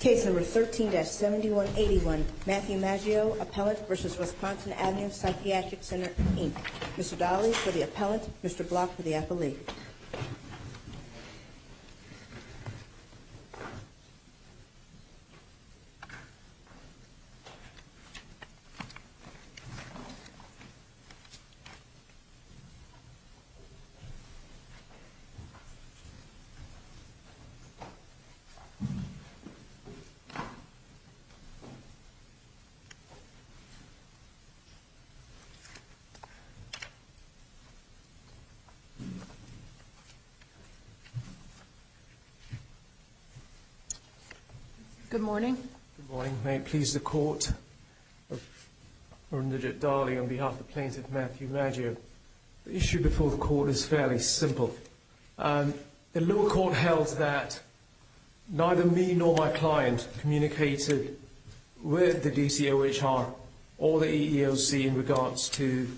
Case number 13-7181, Matthew Maggio, Appellant v. Wisconsin Ave. Psychiatric Center, Inc. Mr. Dahle for the Appellant, Mr. Block for the Appellee. Good morning. Good morning. May it please the Court, On behalf of Appellant Matthew Maggio, The issue before the Court is fairly simple. The lower court held that neither me nor my client communicated with the DCOHR or the EEOC in regards to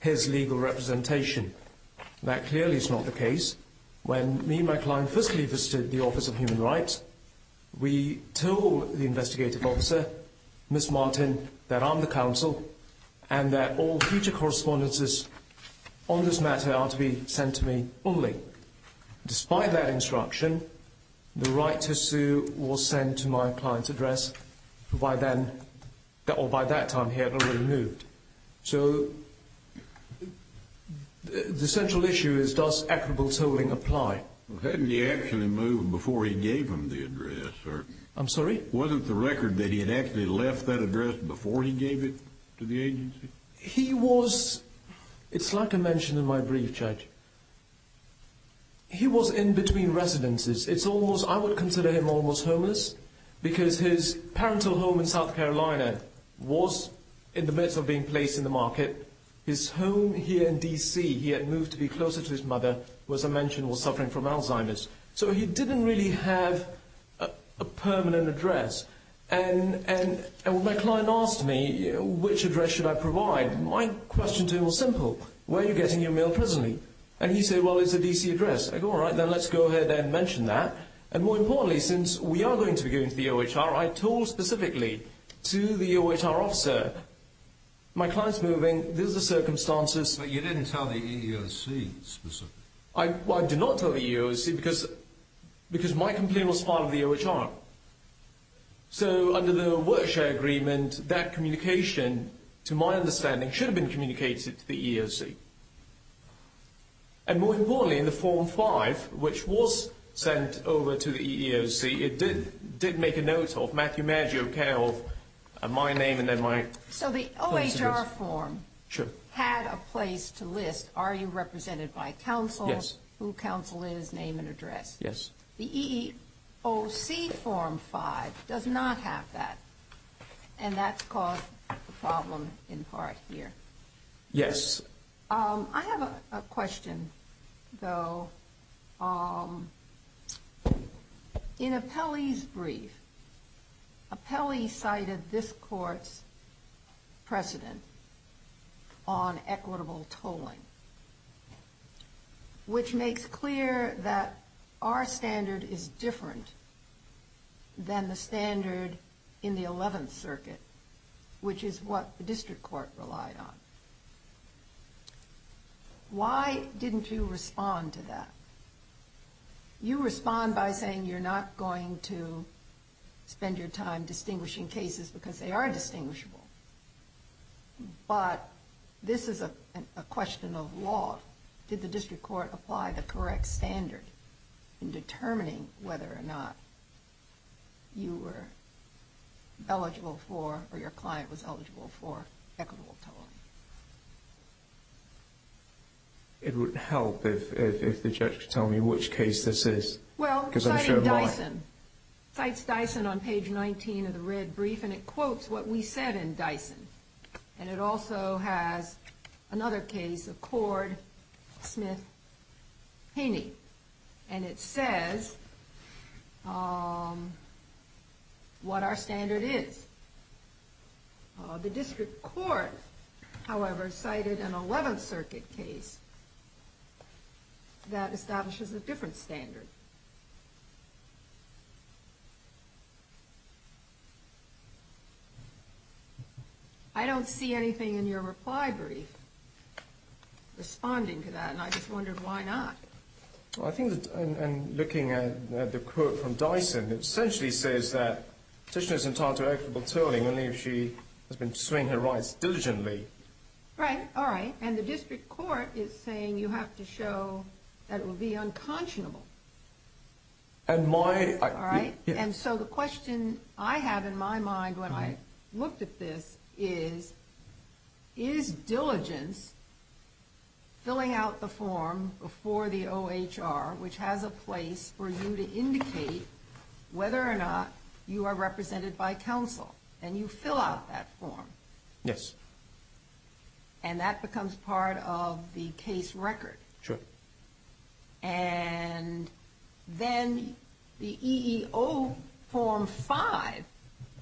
his legal representation. That clearly is not the case. When me and my client firstly visited the Office of Human Rights, we told the investigative officer, Ms. Martin, that I'm the counsel and that all future correspondences on this matter are to be sent to me only. Despite that instruction, the right to sue was sent to my client's address, who by then, or by that time here, had already moved. So, the central issue is, does equitable tolling apply? Hadn't he actually moved before he gave him the address? I'm sorry? Wasn't the record that he had actually left that address before he gave it to the agency? He was, it's like I mentioned in my brief, Judge, he was in between residences. It's almost, I would consider him almost homeless, because his parental home in South Carolina was in the midst of being placed in the market. His home here in DC, he had moved to be closer to his mother, was, I mentioned, was suffering from Alzheimer's. So, he didn't really have a permanent address. And when my client asked me which address should I provide, my question to him was simple. Where are you getting your mail presently? And he said, well, it's a DC address. I go, all right, then let's go ahead and mention that. And more importantly, since we are going to be going to the OHR, I told specifically to the OHR officer, my client's moving, these are the circumstances. But you didn't tell the EEOC specifically? Well, I did not tell the EEOC, because my complaint was filed with the OHR. So, under the work share agreement, that communication, to my understanding, should have been communicated to the EEOC. And more importantly, in the Form 5, which was sent over to the EEOC, it did make a note of Matthew Maggio, care of my name and then my... So, the OHR form had a place to list, are you represented by counsel? Yes. Who counsel is, name and address? Yes. The EEOC Form 5 does not have that. And that's caused the problem in part here. Yes. I have a question, though. In Apelli's brief, Apelli cited this court's precedent on equitable tolling. Which makes clear that our standard is different than the standard in the 11th Circuit, which is what the district court relied on. Why didn't you respond to that? You respond by saying you're not going to spend your time distinguishing cases because they are distinguishable. But this is a question of law. Did the district court apply the correct standard in determining whether or not you were eligible for, or your client was eligible for, equitable tolling? It would help if the judge could tell me which case this is. Well, it cited Dyson. Cites Dyson on page 19 of the red brief, and it quotes what we said in Dyson. And it also has another case of Cord, Smith, Haney. And it says what our standard is. The district court, however, cited an 11th Circuit case that establishes a different standard. I don't see anything in your reply brief responding to that, and I just wondered why not. Well, I think in looking at the quote from Dyson, it essentially says that the petitioner is entitled to equitable tolling only if she has been pursuing her rights diligently. Right. All right. And the district court is saying you have to show that it will be unconscionable. All right. And so the question I have in my mind when I looked at this is, is diligence filling out the form before the OHR, which has a place for you to indicate whether or not you are represented by counsel, and you fill out that form. Yes. And that becomes part of the case record. Sure. And then the EEO form 5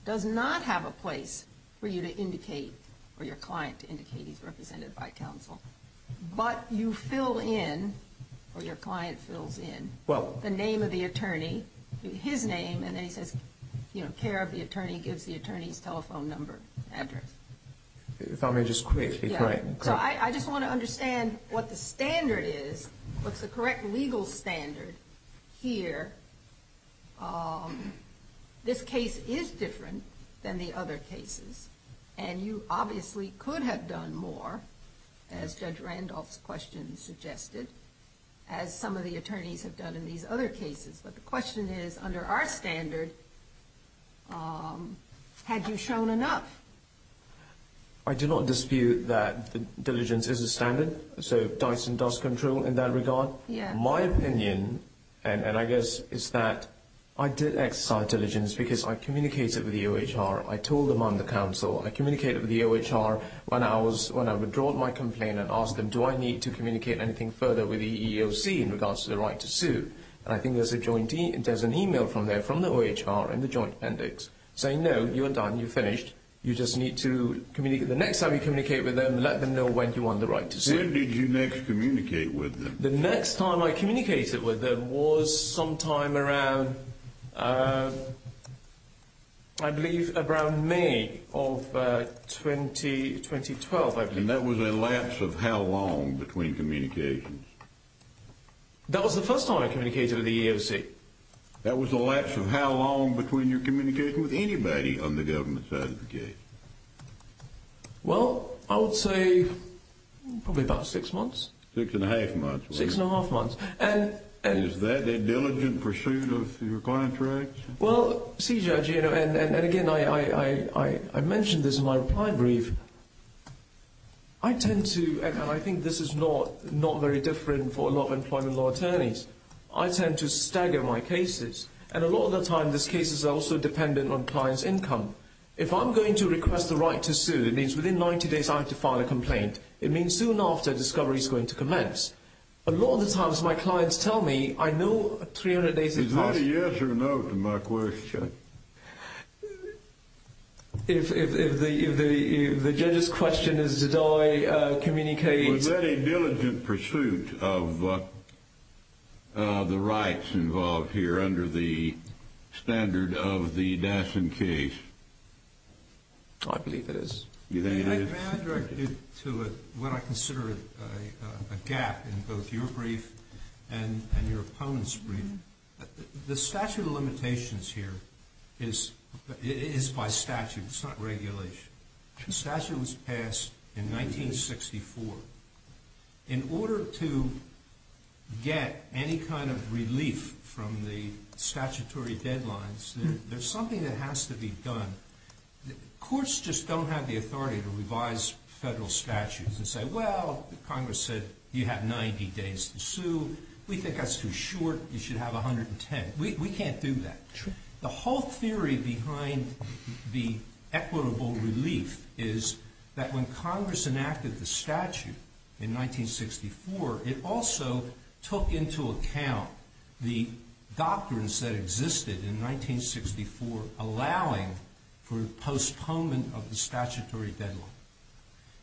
does not have a place for you to indicate or your client to indicate he's represented by counsel. But you fill in or your client fills in the name of the attorney, his name, and then he says, you know, care of the attorney, gives the attorney's telephone number, address. If I may just quickly. Yeah. So I just want to understand what the standard is, what's the correct legal standard here. This case is different than the other cases. And you obviously could have done more, as Judge Randolph's question suggested, as some of the attorneys have done in these other cases. But the question is, under our standard, had you shown enough? I do not dispute that diligence is a standard. So Dyson does control in that regard. Yeah. My opinion, and I guess it's that I did exercise diligence because I communicated with the OHR. I told them I'm the counsel. I communicated with the OHR when I was, when I withdrew my complaint and asked them, do I need to communicate anything further with the EEOC in regards to the right to sue? And I think there's a joint, there's an email from there from the OHR and the joint appendix saying, no, you're done, you're finished. You just need to communicate. The next time you communicate with them, let them know when you want the right to sue. When did you next communicate with them? The next time I communicated with them was sometime around, I believe, around May of 2012, I believe. And that was a lapse of how long between communications? That was the first time I communicated with the EEOC. That was a lapse of how long between your communication with anybody on the government's side of the case? Well, I would say probably about six months. Six and a half months. Six and a half months. Is that a diligent pursuit of your contracts? Well, CJ, and again, I mentioned this in my reply brief. I tend to, and I think this is not very different for a lot of employment law attorneys, I tend to stagger my cases. And a lot of the time, these cases are also dependent on clients' income. If I'm going to request the right to sue, it means within 90 days I have to file a complaint. It means soon after, discovery is going to commence. A lot of the times, my clients tell me, I know 300 days has passed. Is that a yes or a no to my question? If the judge's question is did I communicate? Was that a diligent pursuit of the rights involved here under the standard of the Dyson case? I believe it is. You think it is? Can I direct you to what I consider a gap in both your brief and your opponent's brief? The statute of limitations here is by statute. It's not regulation. The statute was passed in 1964. In order to get any kind of relief from the statutory deadlines, there's something that has to be done. Courts just don't have the authority to revise federal statutes and say, well, Congress said you have 90 days to sue. We think that's too short. You should have 110. We can't do that. The whole theory behind the equitable relief is that when Congress enacted the statute in 1964, it also took into account the doctrines that existed in 1964 allowing for postponement of the statutory deadline.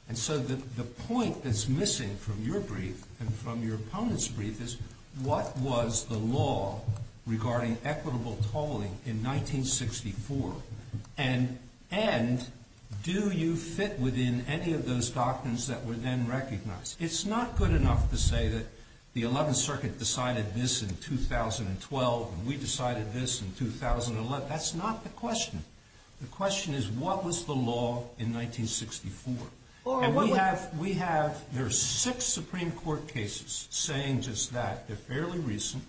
And so the point that's missing from your brief and from your opponent's brief is what was the law regarding equitable tolling in 1964? And do you fit within any of those doctrines that were then recognized? It's not good enough to say that the 11th Circuit decided this in 2012 and we decided this in 2011. That's not the question. The question is what was the law in 1964? And we have ‑‑ there are six Supreme Court cases saying just that. They're fairly recent.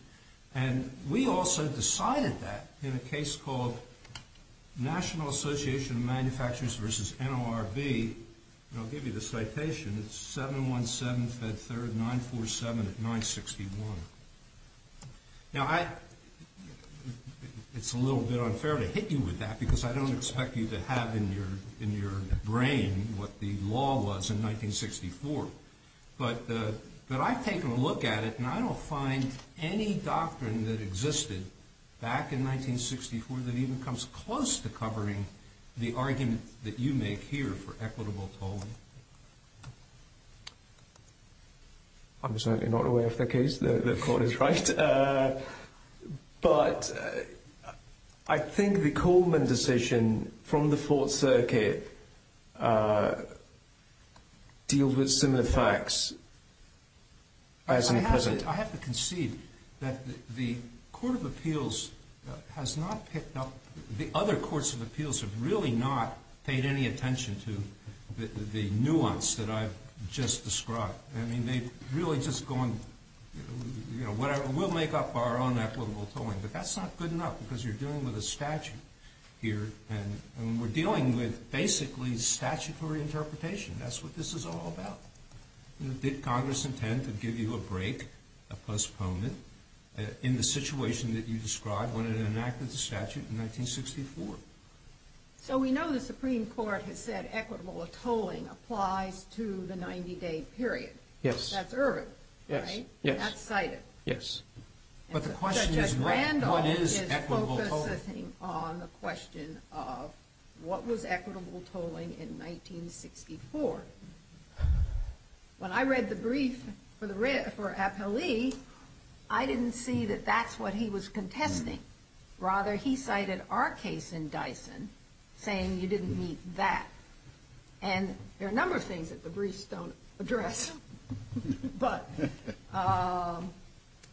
And we also decided that in a case called National Association of Manufacturers versus NORB. And I'll give you the citation. It's 717, Fed 3rd, 947 at 961. Now, it's a little bit unfair to hit you with that because I don't expect you to have in your brain what the law was in 1964. But I've taken a look at it and I don't find any doctrine that existed back in 1964 that even comes close to covering the argument that you make here for equitable tolling. I'm certainly not aware of that case. The court is right. But I think the Coleman decision from the 4th Circuit deals with similar facts as in the present. I have to concede that the Court of Appeals has not picked up ‑‑ the other courts of appeals have really not paid any attention to the nuance that I've just described. I mean, they've really just gone, you know, whatever, we'll make up our own equitable tolling. But that's not good enough because you're dealing with a statute here. And we're dealing with basically statutory interpretation. That's what this is all about. Did Congress intend to give you a break, a postponement, in the situation that you described when it enacted the statute in 1964? So we know the Supreme Court has said equitable tolling applies to the 90‑day period. Yes. That's urban, right? Yes, yes. That's cited. But the question is what is equitable tolling? Judge Randolph is focusing on the question of what was equitable tolling in 1964. When I read the brief for the appellee, I didn't see that that's what he was contesting. Rather, he cited our case in Dyson, saying you didn't meet that. And there are a number of things that the briefs don't address. But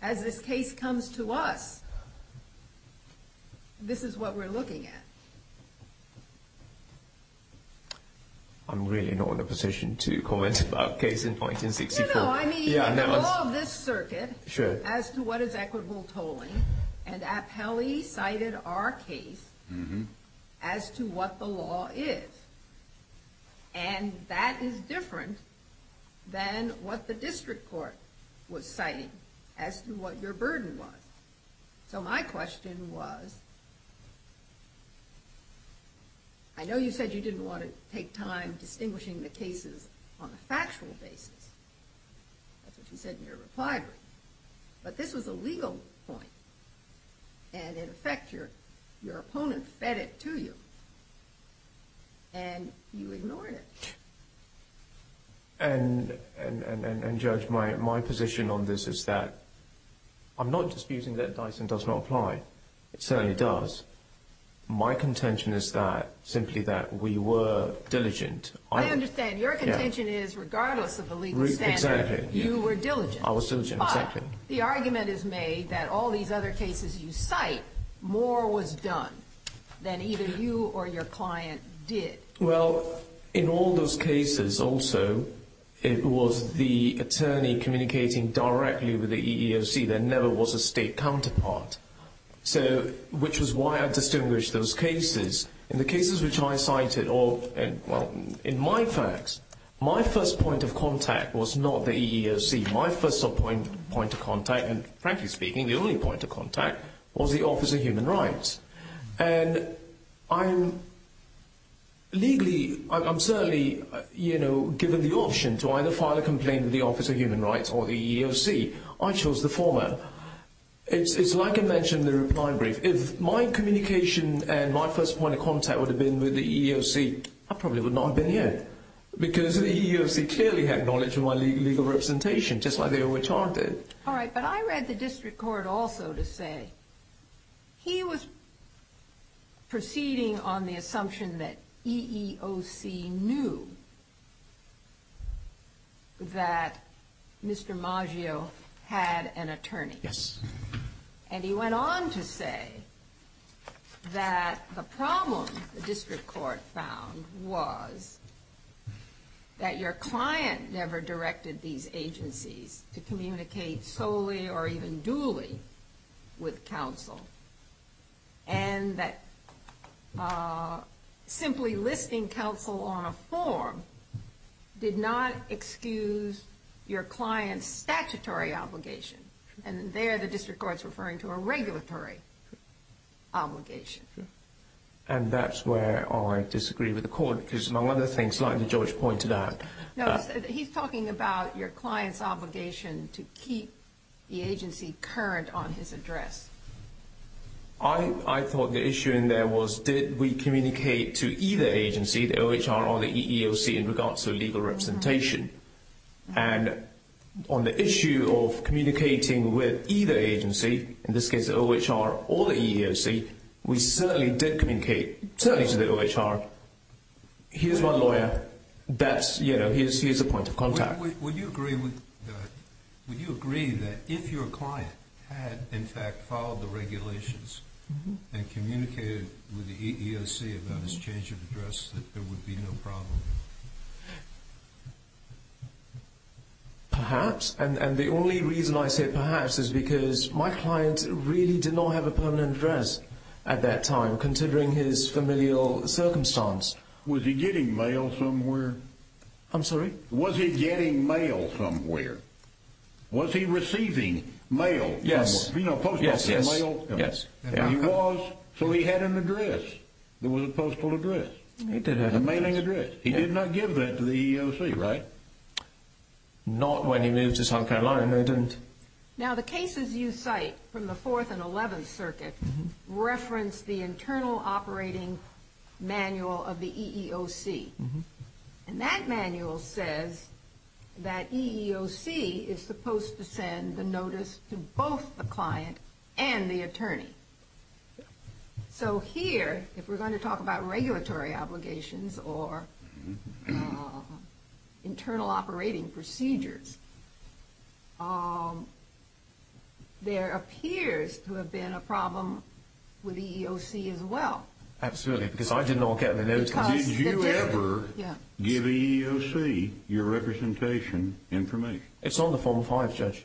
as this case comes to us, this is what we're looking at. I'm really not in a position to comment about a case in 1964. In the law of this circuit, as to what is equitable tolling, an appellee cited our case as to what the law is. And that is different than what the district court was citing, as to what your burden was. So my question was, I know you said you didn't want to take time distinguishing the cases on a factual basis. That's what you said in your reply brief. But this was a legal point. And, in effect, your opponent fed it to you. And you ignored it. And, Judge, my position on this is that I'm not disputing that Dyson does not apply. It certainly does. My contention is that, simply that, we were diligent. I understand. Your contention is regardless of the legal standards. Exactly. You were diligent. I was diligent, exactly. But the argument is made that all these other cases you cite, more was done than either you or your client did. Well, in all those cases, also, it was the attorney communicating directly with the EEOC. There never was a state counterpart. So, which was why I distinguished those cases. In the cases which I cited, or, well, in my facts, my first point of contact was not the EEOC. My first point of contact, and, frankly speaking, the only point of contact, was the Office of Human Rights. And I'm legally, I'm certainly, you know, given the option to either file a complaint with the Office of Human Rights or the EEOC, I chose the former. It's like I mentioned in the reply brief. If my communication and my first point of contact would have been with the EEOC, I probably would not have been here. Because the EEOC clearly had knowledge of my legal representation, just like they overcharged it. All right. But I read the district court also to say he was proceeding on the assumption that EEOC knew that Mr. Maggio had an attorney. Yes. And he went on to say that the problem the district court found was that your client never directed these agencies to communicate solely or even duly with counsel. And that simply listing counsel on a form did not excuse your client's statutory obligation. And there the district court's referring to a regulatory obligation. And that's where I disagree with the court. Because among other things, like the judge pointed out. No, he's talking about your client's obligation to keep the agency current on his address. I thought the issue in there was did we communicate to either agency, the OHR or the EEOC, in regards to legal representation? And on the issue of communicating with either agency, in this case the OHR or the EEOC, we certainly did communicate, certainly to the OHR, here's my lawyer, here's the point of contact. Would you agree that if your client had, in fact, followed the regulations and communicated with the EEOC about his change of address, that there would be no problem? Perhaps. And the only reason I say perhaps is because my client really did not have a permanent address at that time, considering his familial circumstance. Was he getting mail somewhere? I'm sorry? Was he getting mail somewhere? Was he receiving mail? Yes. You know, postal mail? Yes, yes. He was, so he had an address. It was a postal address. He did have an address. He did have an address. He did not give that to the EEOC, right? Not when he moved to South Carolina, he didn't. Now the cases you cite from the Fourth and Eleventh Circuit reference the Internal Operating Manual of the EEOC. And that manual says that EEOC is supposed to send the notice to both the client and the attorney. So here, if we're going to talk about regulatory obligations or internal operating procedures, there appears to have been a problem with EEOC as well. Absolutely, because I did not get the notice. Did you ever give EEOC your representation information? It's on the Form 5, Judge.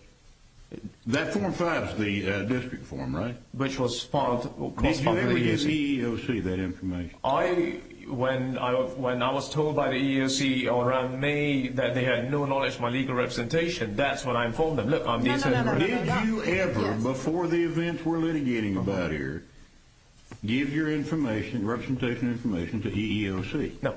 That Form 5 is the district form, right? Did you ever give EEOC that information? When I was told by the EEOC around May that they had no knowledge of my legal representation, that's when I informed them. Did you ever, before the events we're litigating about here, give your representation information to EEOC? No.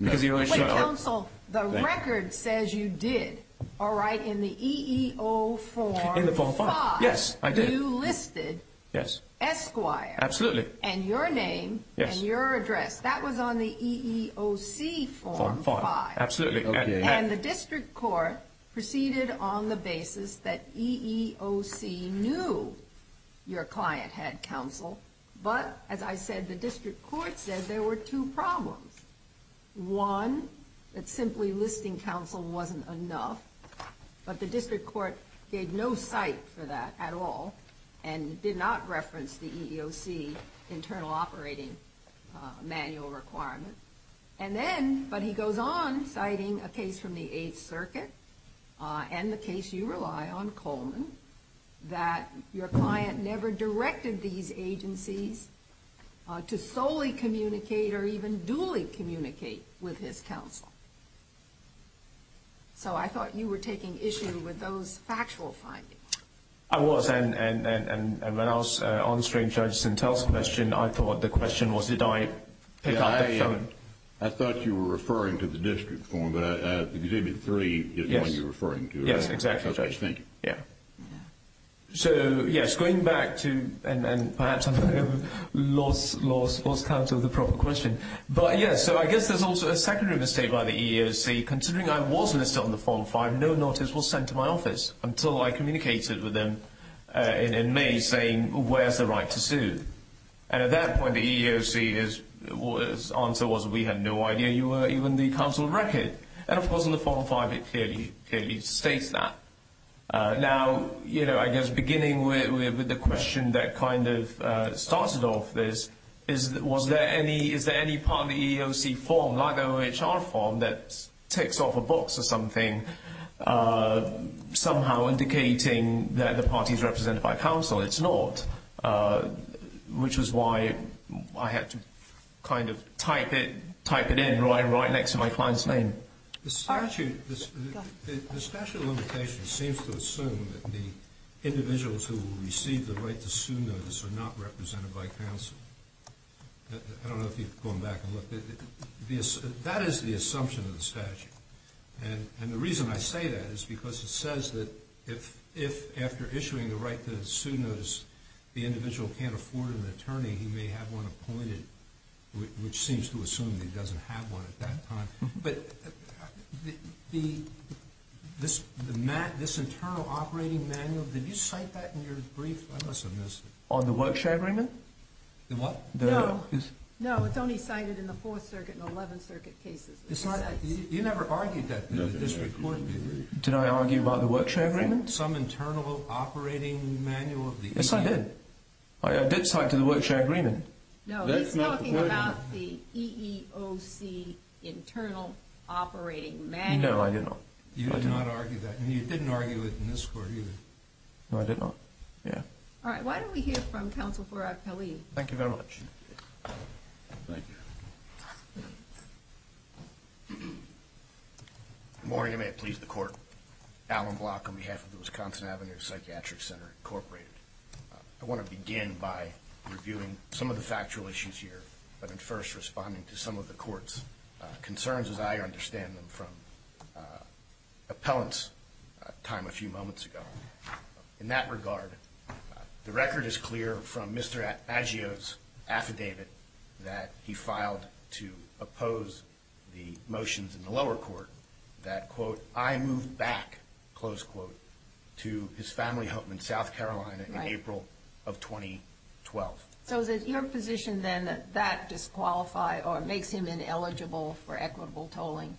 Wait, counsel, the record says you did, all right, in the EEO Form 5. In the Form 5, yes, I did. You listed Esquire and your name and your address. That was on the EEOC Form 5. Absolutely. And the district court proceeded on the basis that EEOC knew your client had counsel. But, as I said, the district court said there were two problems. One, that simply listing counsel wasn't enough, but the district court gave no cite for that at all and did not reference the EEOC internal operating manual requirement. And then, but he goes on citing a case from the Eighth Circuit and the case you rely on, Coleman, that your client never directed these agencies to solely communicate or even duly communicate with his counsel. So I thought you were taking issue with those factual findings. I was, and when I was answering Judge Sintel's question, I thought the question was did I pick up the phone. I thought you were referring to the district form, but Exhibit 3 is not what you're referring to. Yes, exactly, Judge. So, yes, going back to, and perhaps I've lost count of the proper question. But, yes, so I guess there's also a secondary mistake by the EEOC. Considering I was listed on the Form 5, no notice was sent to my office until I communicated with them in May saying, where's the right to sue? And at that point, the EEOC's answer was we had no idea you were even the counsel of record. And, of course, in the Form 5, it clearly states that. Now, you know, I guess beginning with the question that kind of started off this, is there any part of the EEOC form, like the OHR form, that ticks off a box or something, somehow indicating that the party is represented by counsel? Well, it's not, which is why I had to kind of type it in right next to my client's name. The statute of limitations seems to assume that the individuals who receive the right to sue notice are not represented by counsel. I don't know if you've gone back and looked. And the reason I say that is because it says that if, after issuing the right to sue notice, the individual can't afford an attorney, he may have one appointed, which seems to assume he doesn't have one at that time. But this internal operating manual, did you cite that in your brief? I must have missed it. On the workshop agreement? No, it's only cited in the Fourth Circuit and Eleventh Circuit cases. You never argued that in the district court, did you? Did I argue about the workshop agreement? Some internal operating manual of the EEOC. Yes, I did. I did cite it in the workshop agreement. No, he's talking about the EEOC internal operating manual. No, I did not. You did not argue that, and you didn't argue it in this court either. No, I did not, yeah. All right, why don't we hear from counsel Farag Khalil. Thank you very much. Thank you. Good morning, and may it please the Court. Alan Block on behalf of the Wisconsin Avenue Psychiatric Center, Incorporated. I want to begin by reviewing some of the factual issues here, but first responding to some of the Court's concerns as I understand them from appellant's time a few moments ago. In that regard, the record is clear from Mr. Aggio's affidavit that he filed to oppose the motions in the lower court that, quote, I moved back, close quote, to his family home in South Carolina in April of 2012. So is it your position then that that disqualifies or makes him ineligible for equitable tolling?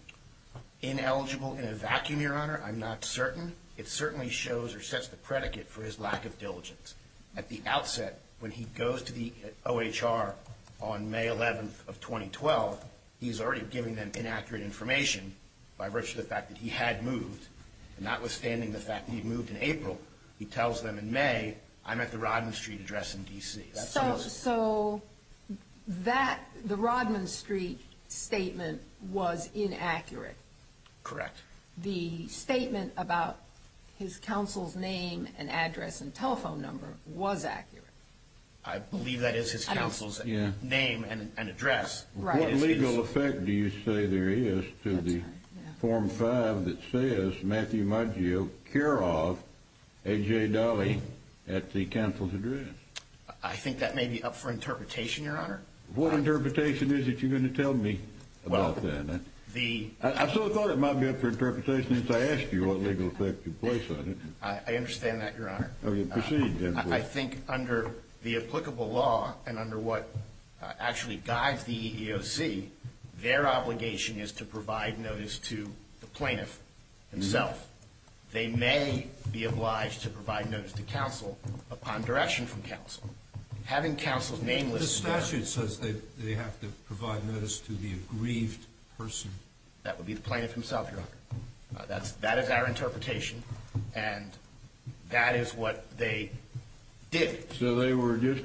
Ineligible in a vacuum, Your Honor, I'm not certain. It certainly shows or sets the predicate for his lack of diligence. At the outset, when he goes to the OHR on May 11th of 2012, he's already giving them inaccurate information by virtue of the fact that he had moved, and notwithstanding the fact that he moved in April, he tells them in May, I'm at the Rodman Street address in D.C. So that, the Rodman Street statement was inaccurate. Correct. The statement about his counsel's name and address and telephone number was accurate. I believe that is his counsel's name and address. What legal effect do you say there is to the Form 5 that says Matthew Maggio Kirov A.J. Dolly at the counsel's address? I think that may be up for interpretation, Your Honor. What interpretation is it you're going to tell me about that? I sort of thought it might be up for interpretation if I asked you what legal effect you place on it. I understand that, Your Honor. Proceed, then. I think under the applicable law and under what actually guides the EEOC, their obligation is to provide notice to the plaintiff himself. They may be obliged to provide notice to counsel upon direction from counsel. The statute says they have to provide notice to the aggrieved person. That would be the plaintiff himself, Your Honor. That is our interpretation, and that is what they did. So they were just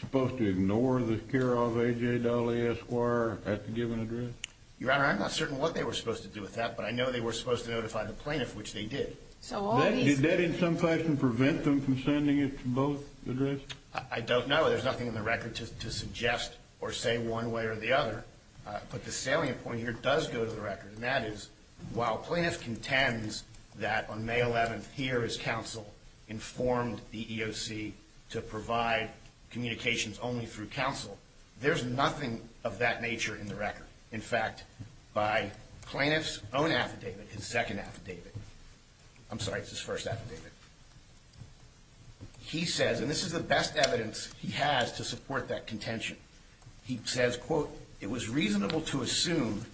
supposed to ignore the Kirov A.J. Dolly Esquire at the given address? Your Honor, I'm not certain what they were supposed to do with that, but I know they were supposed to notify the plaintiff, which they did. Did that in some fashion prevent them from sending it to both addresses? I don't know. There's nothing in the record to suggest or say one way or the other. But the salient point here does go to the record, and that is while plaintiff contends that on May 11th, here is counsel informed the EEOC to provide communications only through counsel, there's nothing of that nature in the record. In fact, by plaintiff's own affidavit, his second affidavit. I'm sorry, it's his first affidavit. He says, and this is the best evidence he has to support that contention. He says, quote, it was reasonable to assume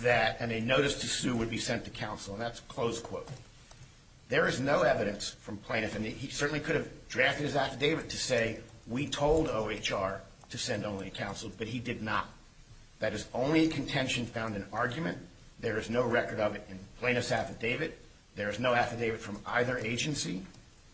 that a notice to sue would be sent to counsel. And that's a closed quote. There is no evidence from plaintiff, and he certainly could have drafted his affidavit to say we told OHR to send only counsel, but he did not. That is only contention found in argument. There is no record of it in plaintiff's affidavit. There is no affidavit from either agency.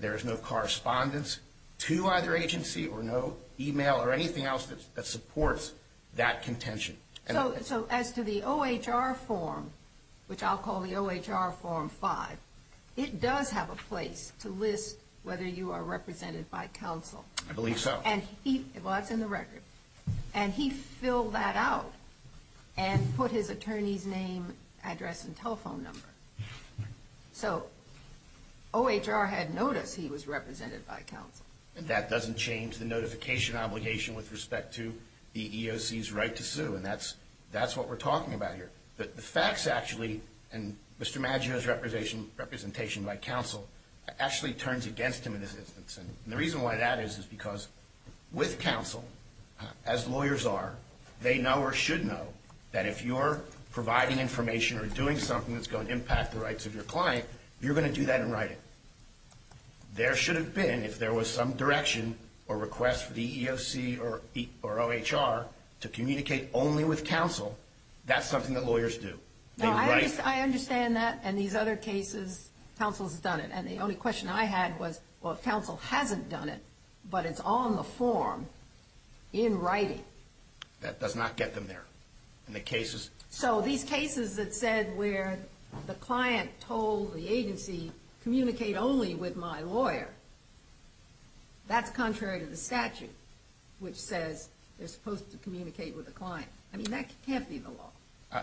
There is no correspondence to either agency or no e-mail or anything else that supports that contention. So as to the OHR form, which I'll call the OHR form 5, it does have a place to list whether you are represented by counsel. I believe so. Well, that's in the record. And he filled that out and put his attorney's name, address, and telephone number. So OHR had notice he was represented by counsel. That doesn't change the notification obligation with respect to the EEOC's right to sue, and that's what we're talking about here. The facts actually, and Mr. Maggio's representation by counsel actually turns against him in this instance. And the reason why that is is because with counsel, as lawyers are, they know or should know that if you're providing information or doing something that's going to impact the rights of your client, you're going to do that in writing. There should have been, if there was some direction or request for the EEOC or OHR to communicate only with counsel, that's something that lawyers do. I understand that. In these other cases, counsel has done it. And the only question I had was, well, counsel hasn't done it, but it's on the form in writing. That does not get them there in the cases. So these cases that said where the client told the agency, communicate only with my lawyer, that's contrary to the statute, which says they're supposed to communicate with the client. I mean, that can't be the law.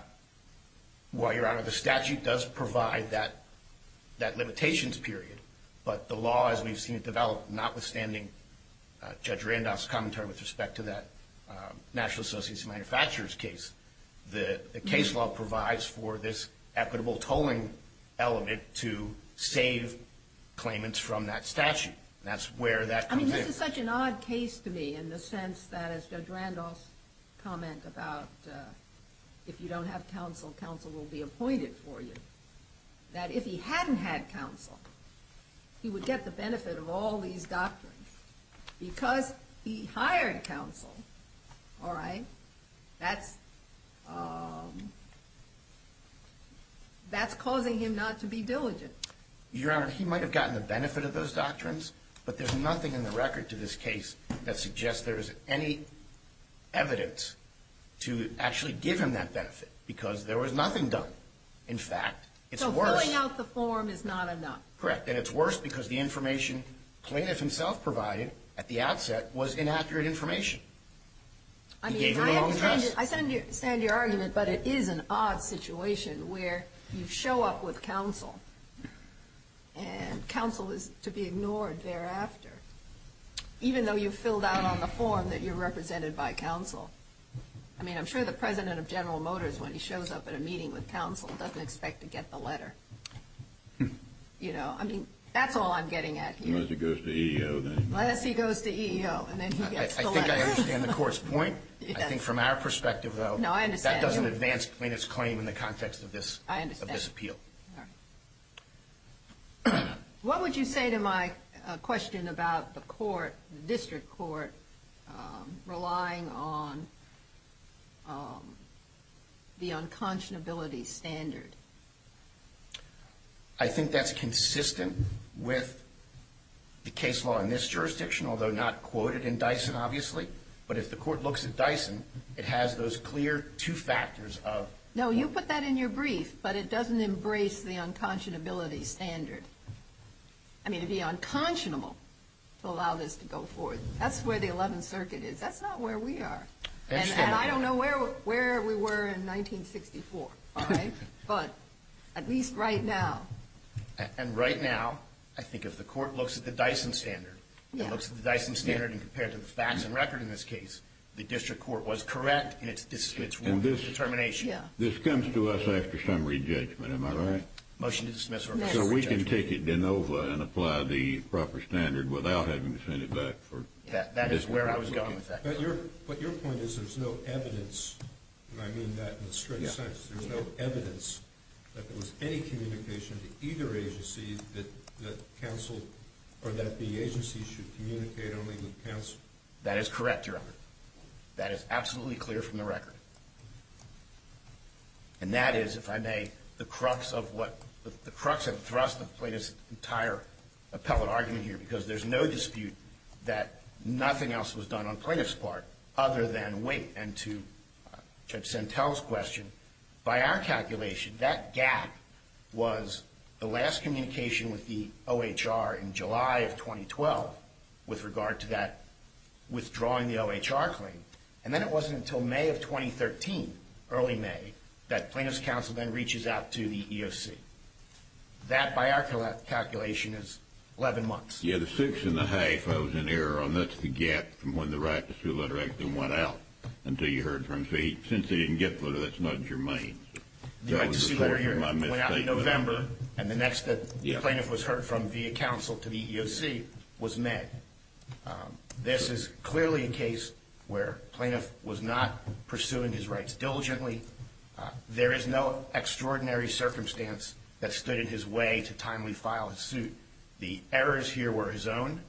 Well, Your Honor, the statute does provide that limitations period, but the law as we've seen it develop, notwithstanding Judge Randolph's commentary with respect to that National Associates of Manufacturers case, the case law provides for this equitable tolling element to save claimants from that statute. That's where that comes in. I mean, this is such an odd case to me in the sense that as Judge Randolph's comment about if you don't have counsel, counsel will be appointed for you, that if he hadn't had counsel, he would get the benefit of all these doctrines. Because he hired counsel, all right, that's causing him not to be diligent. Your Honor, he might have gotten the benefit of those doctrines, but there's nothing in the record to this case that suggests there is any evidence to actually give him that benefit, because there was nothing done. In fact, it's worse. So filling out the form is not enough. Correct. And it's worse because the information plaintiff himself provided at the outset was inaccurate information. He gave you the wrong address. I understand your argument, but it is an odd situation where you show up with counsel and counsel is to be ignored thereafter, even though you filled out on the form that you're represented by counsel. I mean, I'm sure the President of General Motors, when he shows up at a meeting with counsel, doesn't expect to get the letter. I mean, that's all I'm getting at here. Unless he goes to EEO, then. Unless he goes to EEO, and then he gets the letter. I think I understand the Court's point. I think from our perspective, though, that doesn't advance plaintiff's claim in the context of this appeal. I understand. All right. What would you say to my question about the court, the district court, relying on the unconscionability standard? I think that's consistent with the case law in this jurisdiction, although not quoted in Dyson, obviously. But if the court looks at Dyson, it has those clear two factors of— No, you put that in your brief, but it doesn't embrace the unconscionability standard. I mean, to be unconscionable, to allow this to go forward, that's where the 11th Circuit is. That's not where we are. I understand. And I don't know where we were in 1964, all right? But at least right now. And right now, I think if the court looks at the Dyson standard— Yeah. If the court looks at the Dyson standard and compared to the facts and record in this case, the district court was correct in its determination. Yeah. This comes to us after summary judgment. Am I right? Motion to dismiss. So we can take it de novo and apply the proper standard without having to send it back for— That is where I was going with that. But your point is there's no evidence, and I mean that in a straight sense. There's no evidence that there was any communication to either agency that the agency should communicate only with counsel. That is correct, Your Honor. That is absolutely clear from the record. And that is, if I may, the crux of what—the crux and thrust of the plaintiff's entire appellate argument here, because there's no dispute that nothing else was done on the plaintiff's part other than wait. And to Judge Sentelle's question, by our calculation, that gap was the last communication with the OHR in July of 2012 with regard to that withdrawing the OHR claim. And then it wasn't until May of 2013, early May, that plaintiff's counsel then reaches out to the EOC. That, by our calculation, is 11 months. Yes, the 6 1⁄2 was an error, and that's the gap from when the right to sue letter actually went out until you heard from the fee. Since they didn't get the letter, that's not in your name. The right to sue letter went out in November, and the next that the plaintiff was heard from via counsel to the EOC was May. This is clearly a case where plaintiff was not pursuing his rights diligently. There is no extraordinary circumstance that stood in his way to timely file his suit. The errors here were his own.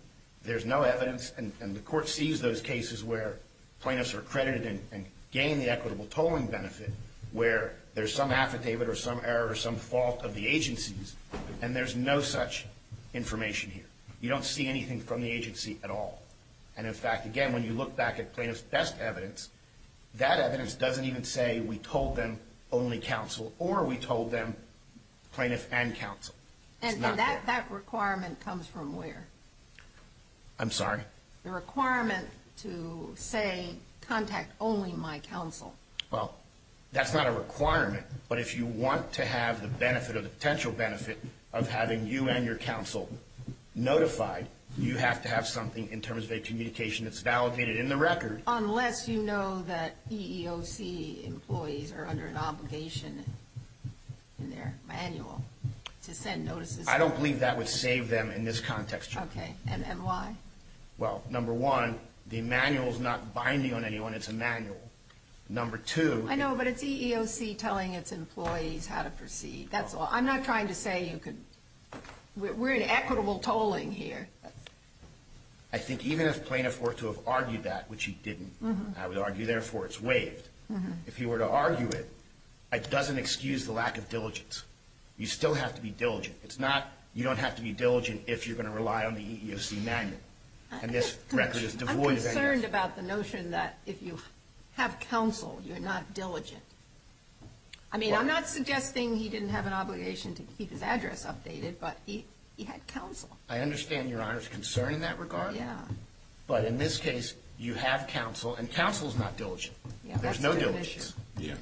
There's no evidence, and the Court sees those cases where plaintiffs are credited and gain the equitable tolling benefit, where there's some affidavit or some error or some fault of the agencies, and there's no such information here. You don't see anything from the agency at all. And, in fact, again, when you look back at plaintiff's best evidence, that evidence doesn't even say we told them only counsel or we told them plaintiff and counsel. It's not there. And that requirement comes from where? I'm sorry? The requirement to say contact only my counsel. Well, that's not a requirement, but if you want to have the benefit or the potential benefit of having you and your counsel notified, you have to have something in terms of a communication that's validated in the record. Unless you know that EEOC employees are under an obligation in their manual to send notices. I don't believe that would save them in this context, Your Honor. Okay. And why? Well, number one, the manual's not binding on anyone. It's a manual. Number two. I know, but it's EEOC telling its employees how to proceed. That's all. I'm not trying to say you could – we're in equitable tolling here. I think even if plaintiff were to have argued that, which he didn't, I would argue, therefore, it's waived. If he were to argue it, it doesn't excuse the lack of diligence. You still have to be diligent. It's not – you don't have to be diligent if you're going to rely on the EEOC manual. And this record is devoid of any of that. I'm concerned about the notion that if you have counsel, you're not diligent. I mean, I'm not suggesting he didn't have an obligation to keep his address updated, but he had counsel. I understand Your Honor's concern in that regard. Yeah. But in this case, you have counsel, and counsel's not diligent. Yeah, that's a good issue. There's no diligence. Yeah.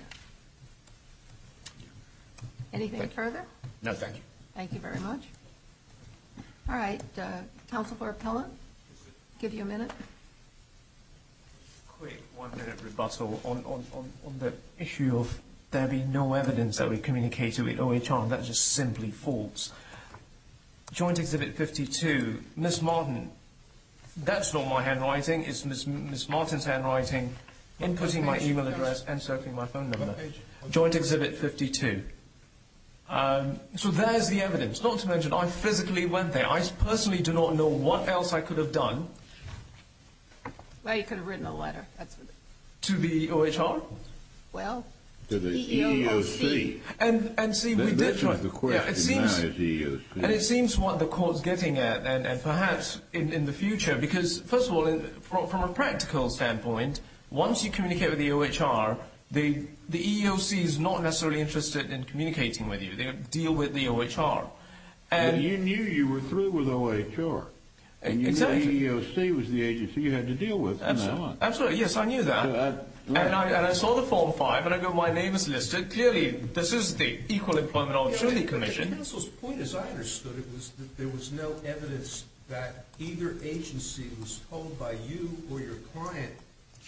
Anything further? No, thank you. Thank you very much. All right. Counsel for appellant. Give you a minute. Quick one-minute rebuttal. On the issue of there being no evidence that we communicated with OHR, that's just simply false. Joint Exhibit 52. Ms. Martin, that's not my handwriting. It's Ms. Martin's handwriting, inputting my e-mail address and circling my phone number. Joint Exhibit 52. So there's the evidence, not to mention I physically went there. I personally do not know what else I could have done. Well, you could have written a letter. To the OHR? Well, to the EEOC. And see, we did try. But the question now is EEOC. And it seems what the court's getting at, and perhaps in the future, because, first of all, from a practical standpoint, once you communicate with the OHR, the EEOC is not necessarily interested in communicating with you. They deal with the OHR. But you knew you were through with OHR. And you knew the EEOC was the agency you had to deal with. Absolutely. Yes, I knew that. And I saw the Form 5, and I go, my name is listed. Clearly, this is the Equal Employment Opportunity Commission. But the counsel's point, as I understood it, was that there was no evidence that either agency was told by you or your client,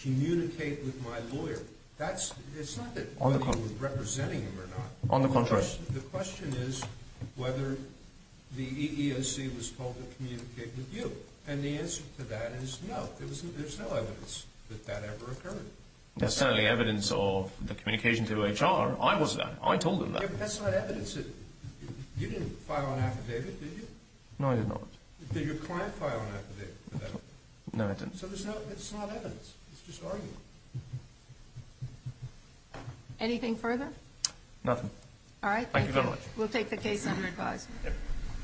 communicate with my lawyer. It's not that you were representing them or not. On the contrary. The question is whether the EEOC was told to communicate with you. And the answer to that is no. There's no evidence that that ever occurred. There's certainly evidence of the communication through OHR. I was there. I told them that. Yeah, but that's not evidence. You didn't file an affidavit, did you? No, I did not. Did your client file an affidavit for that? No, I didn't. So it's not evidence. It's just argument. Anything further? Nothing. All right. Thank you very much. We'll take the case under advisement.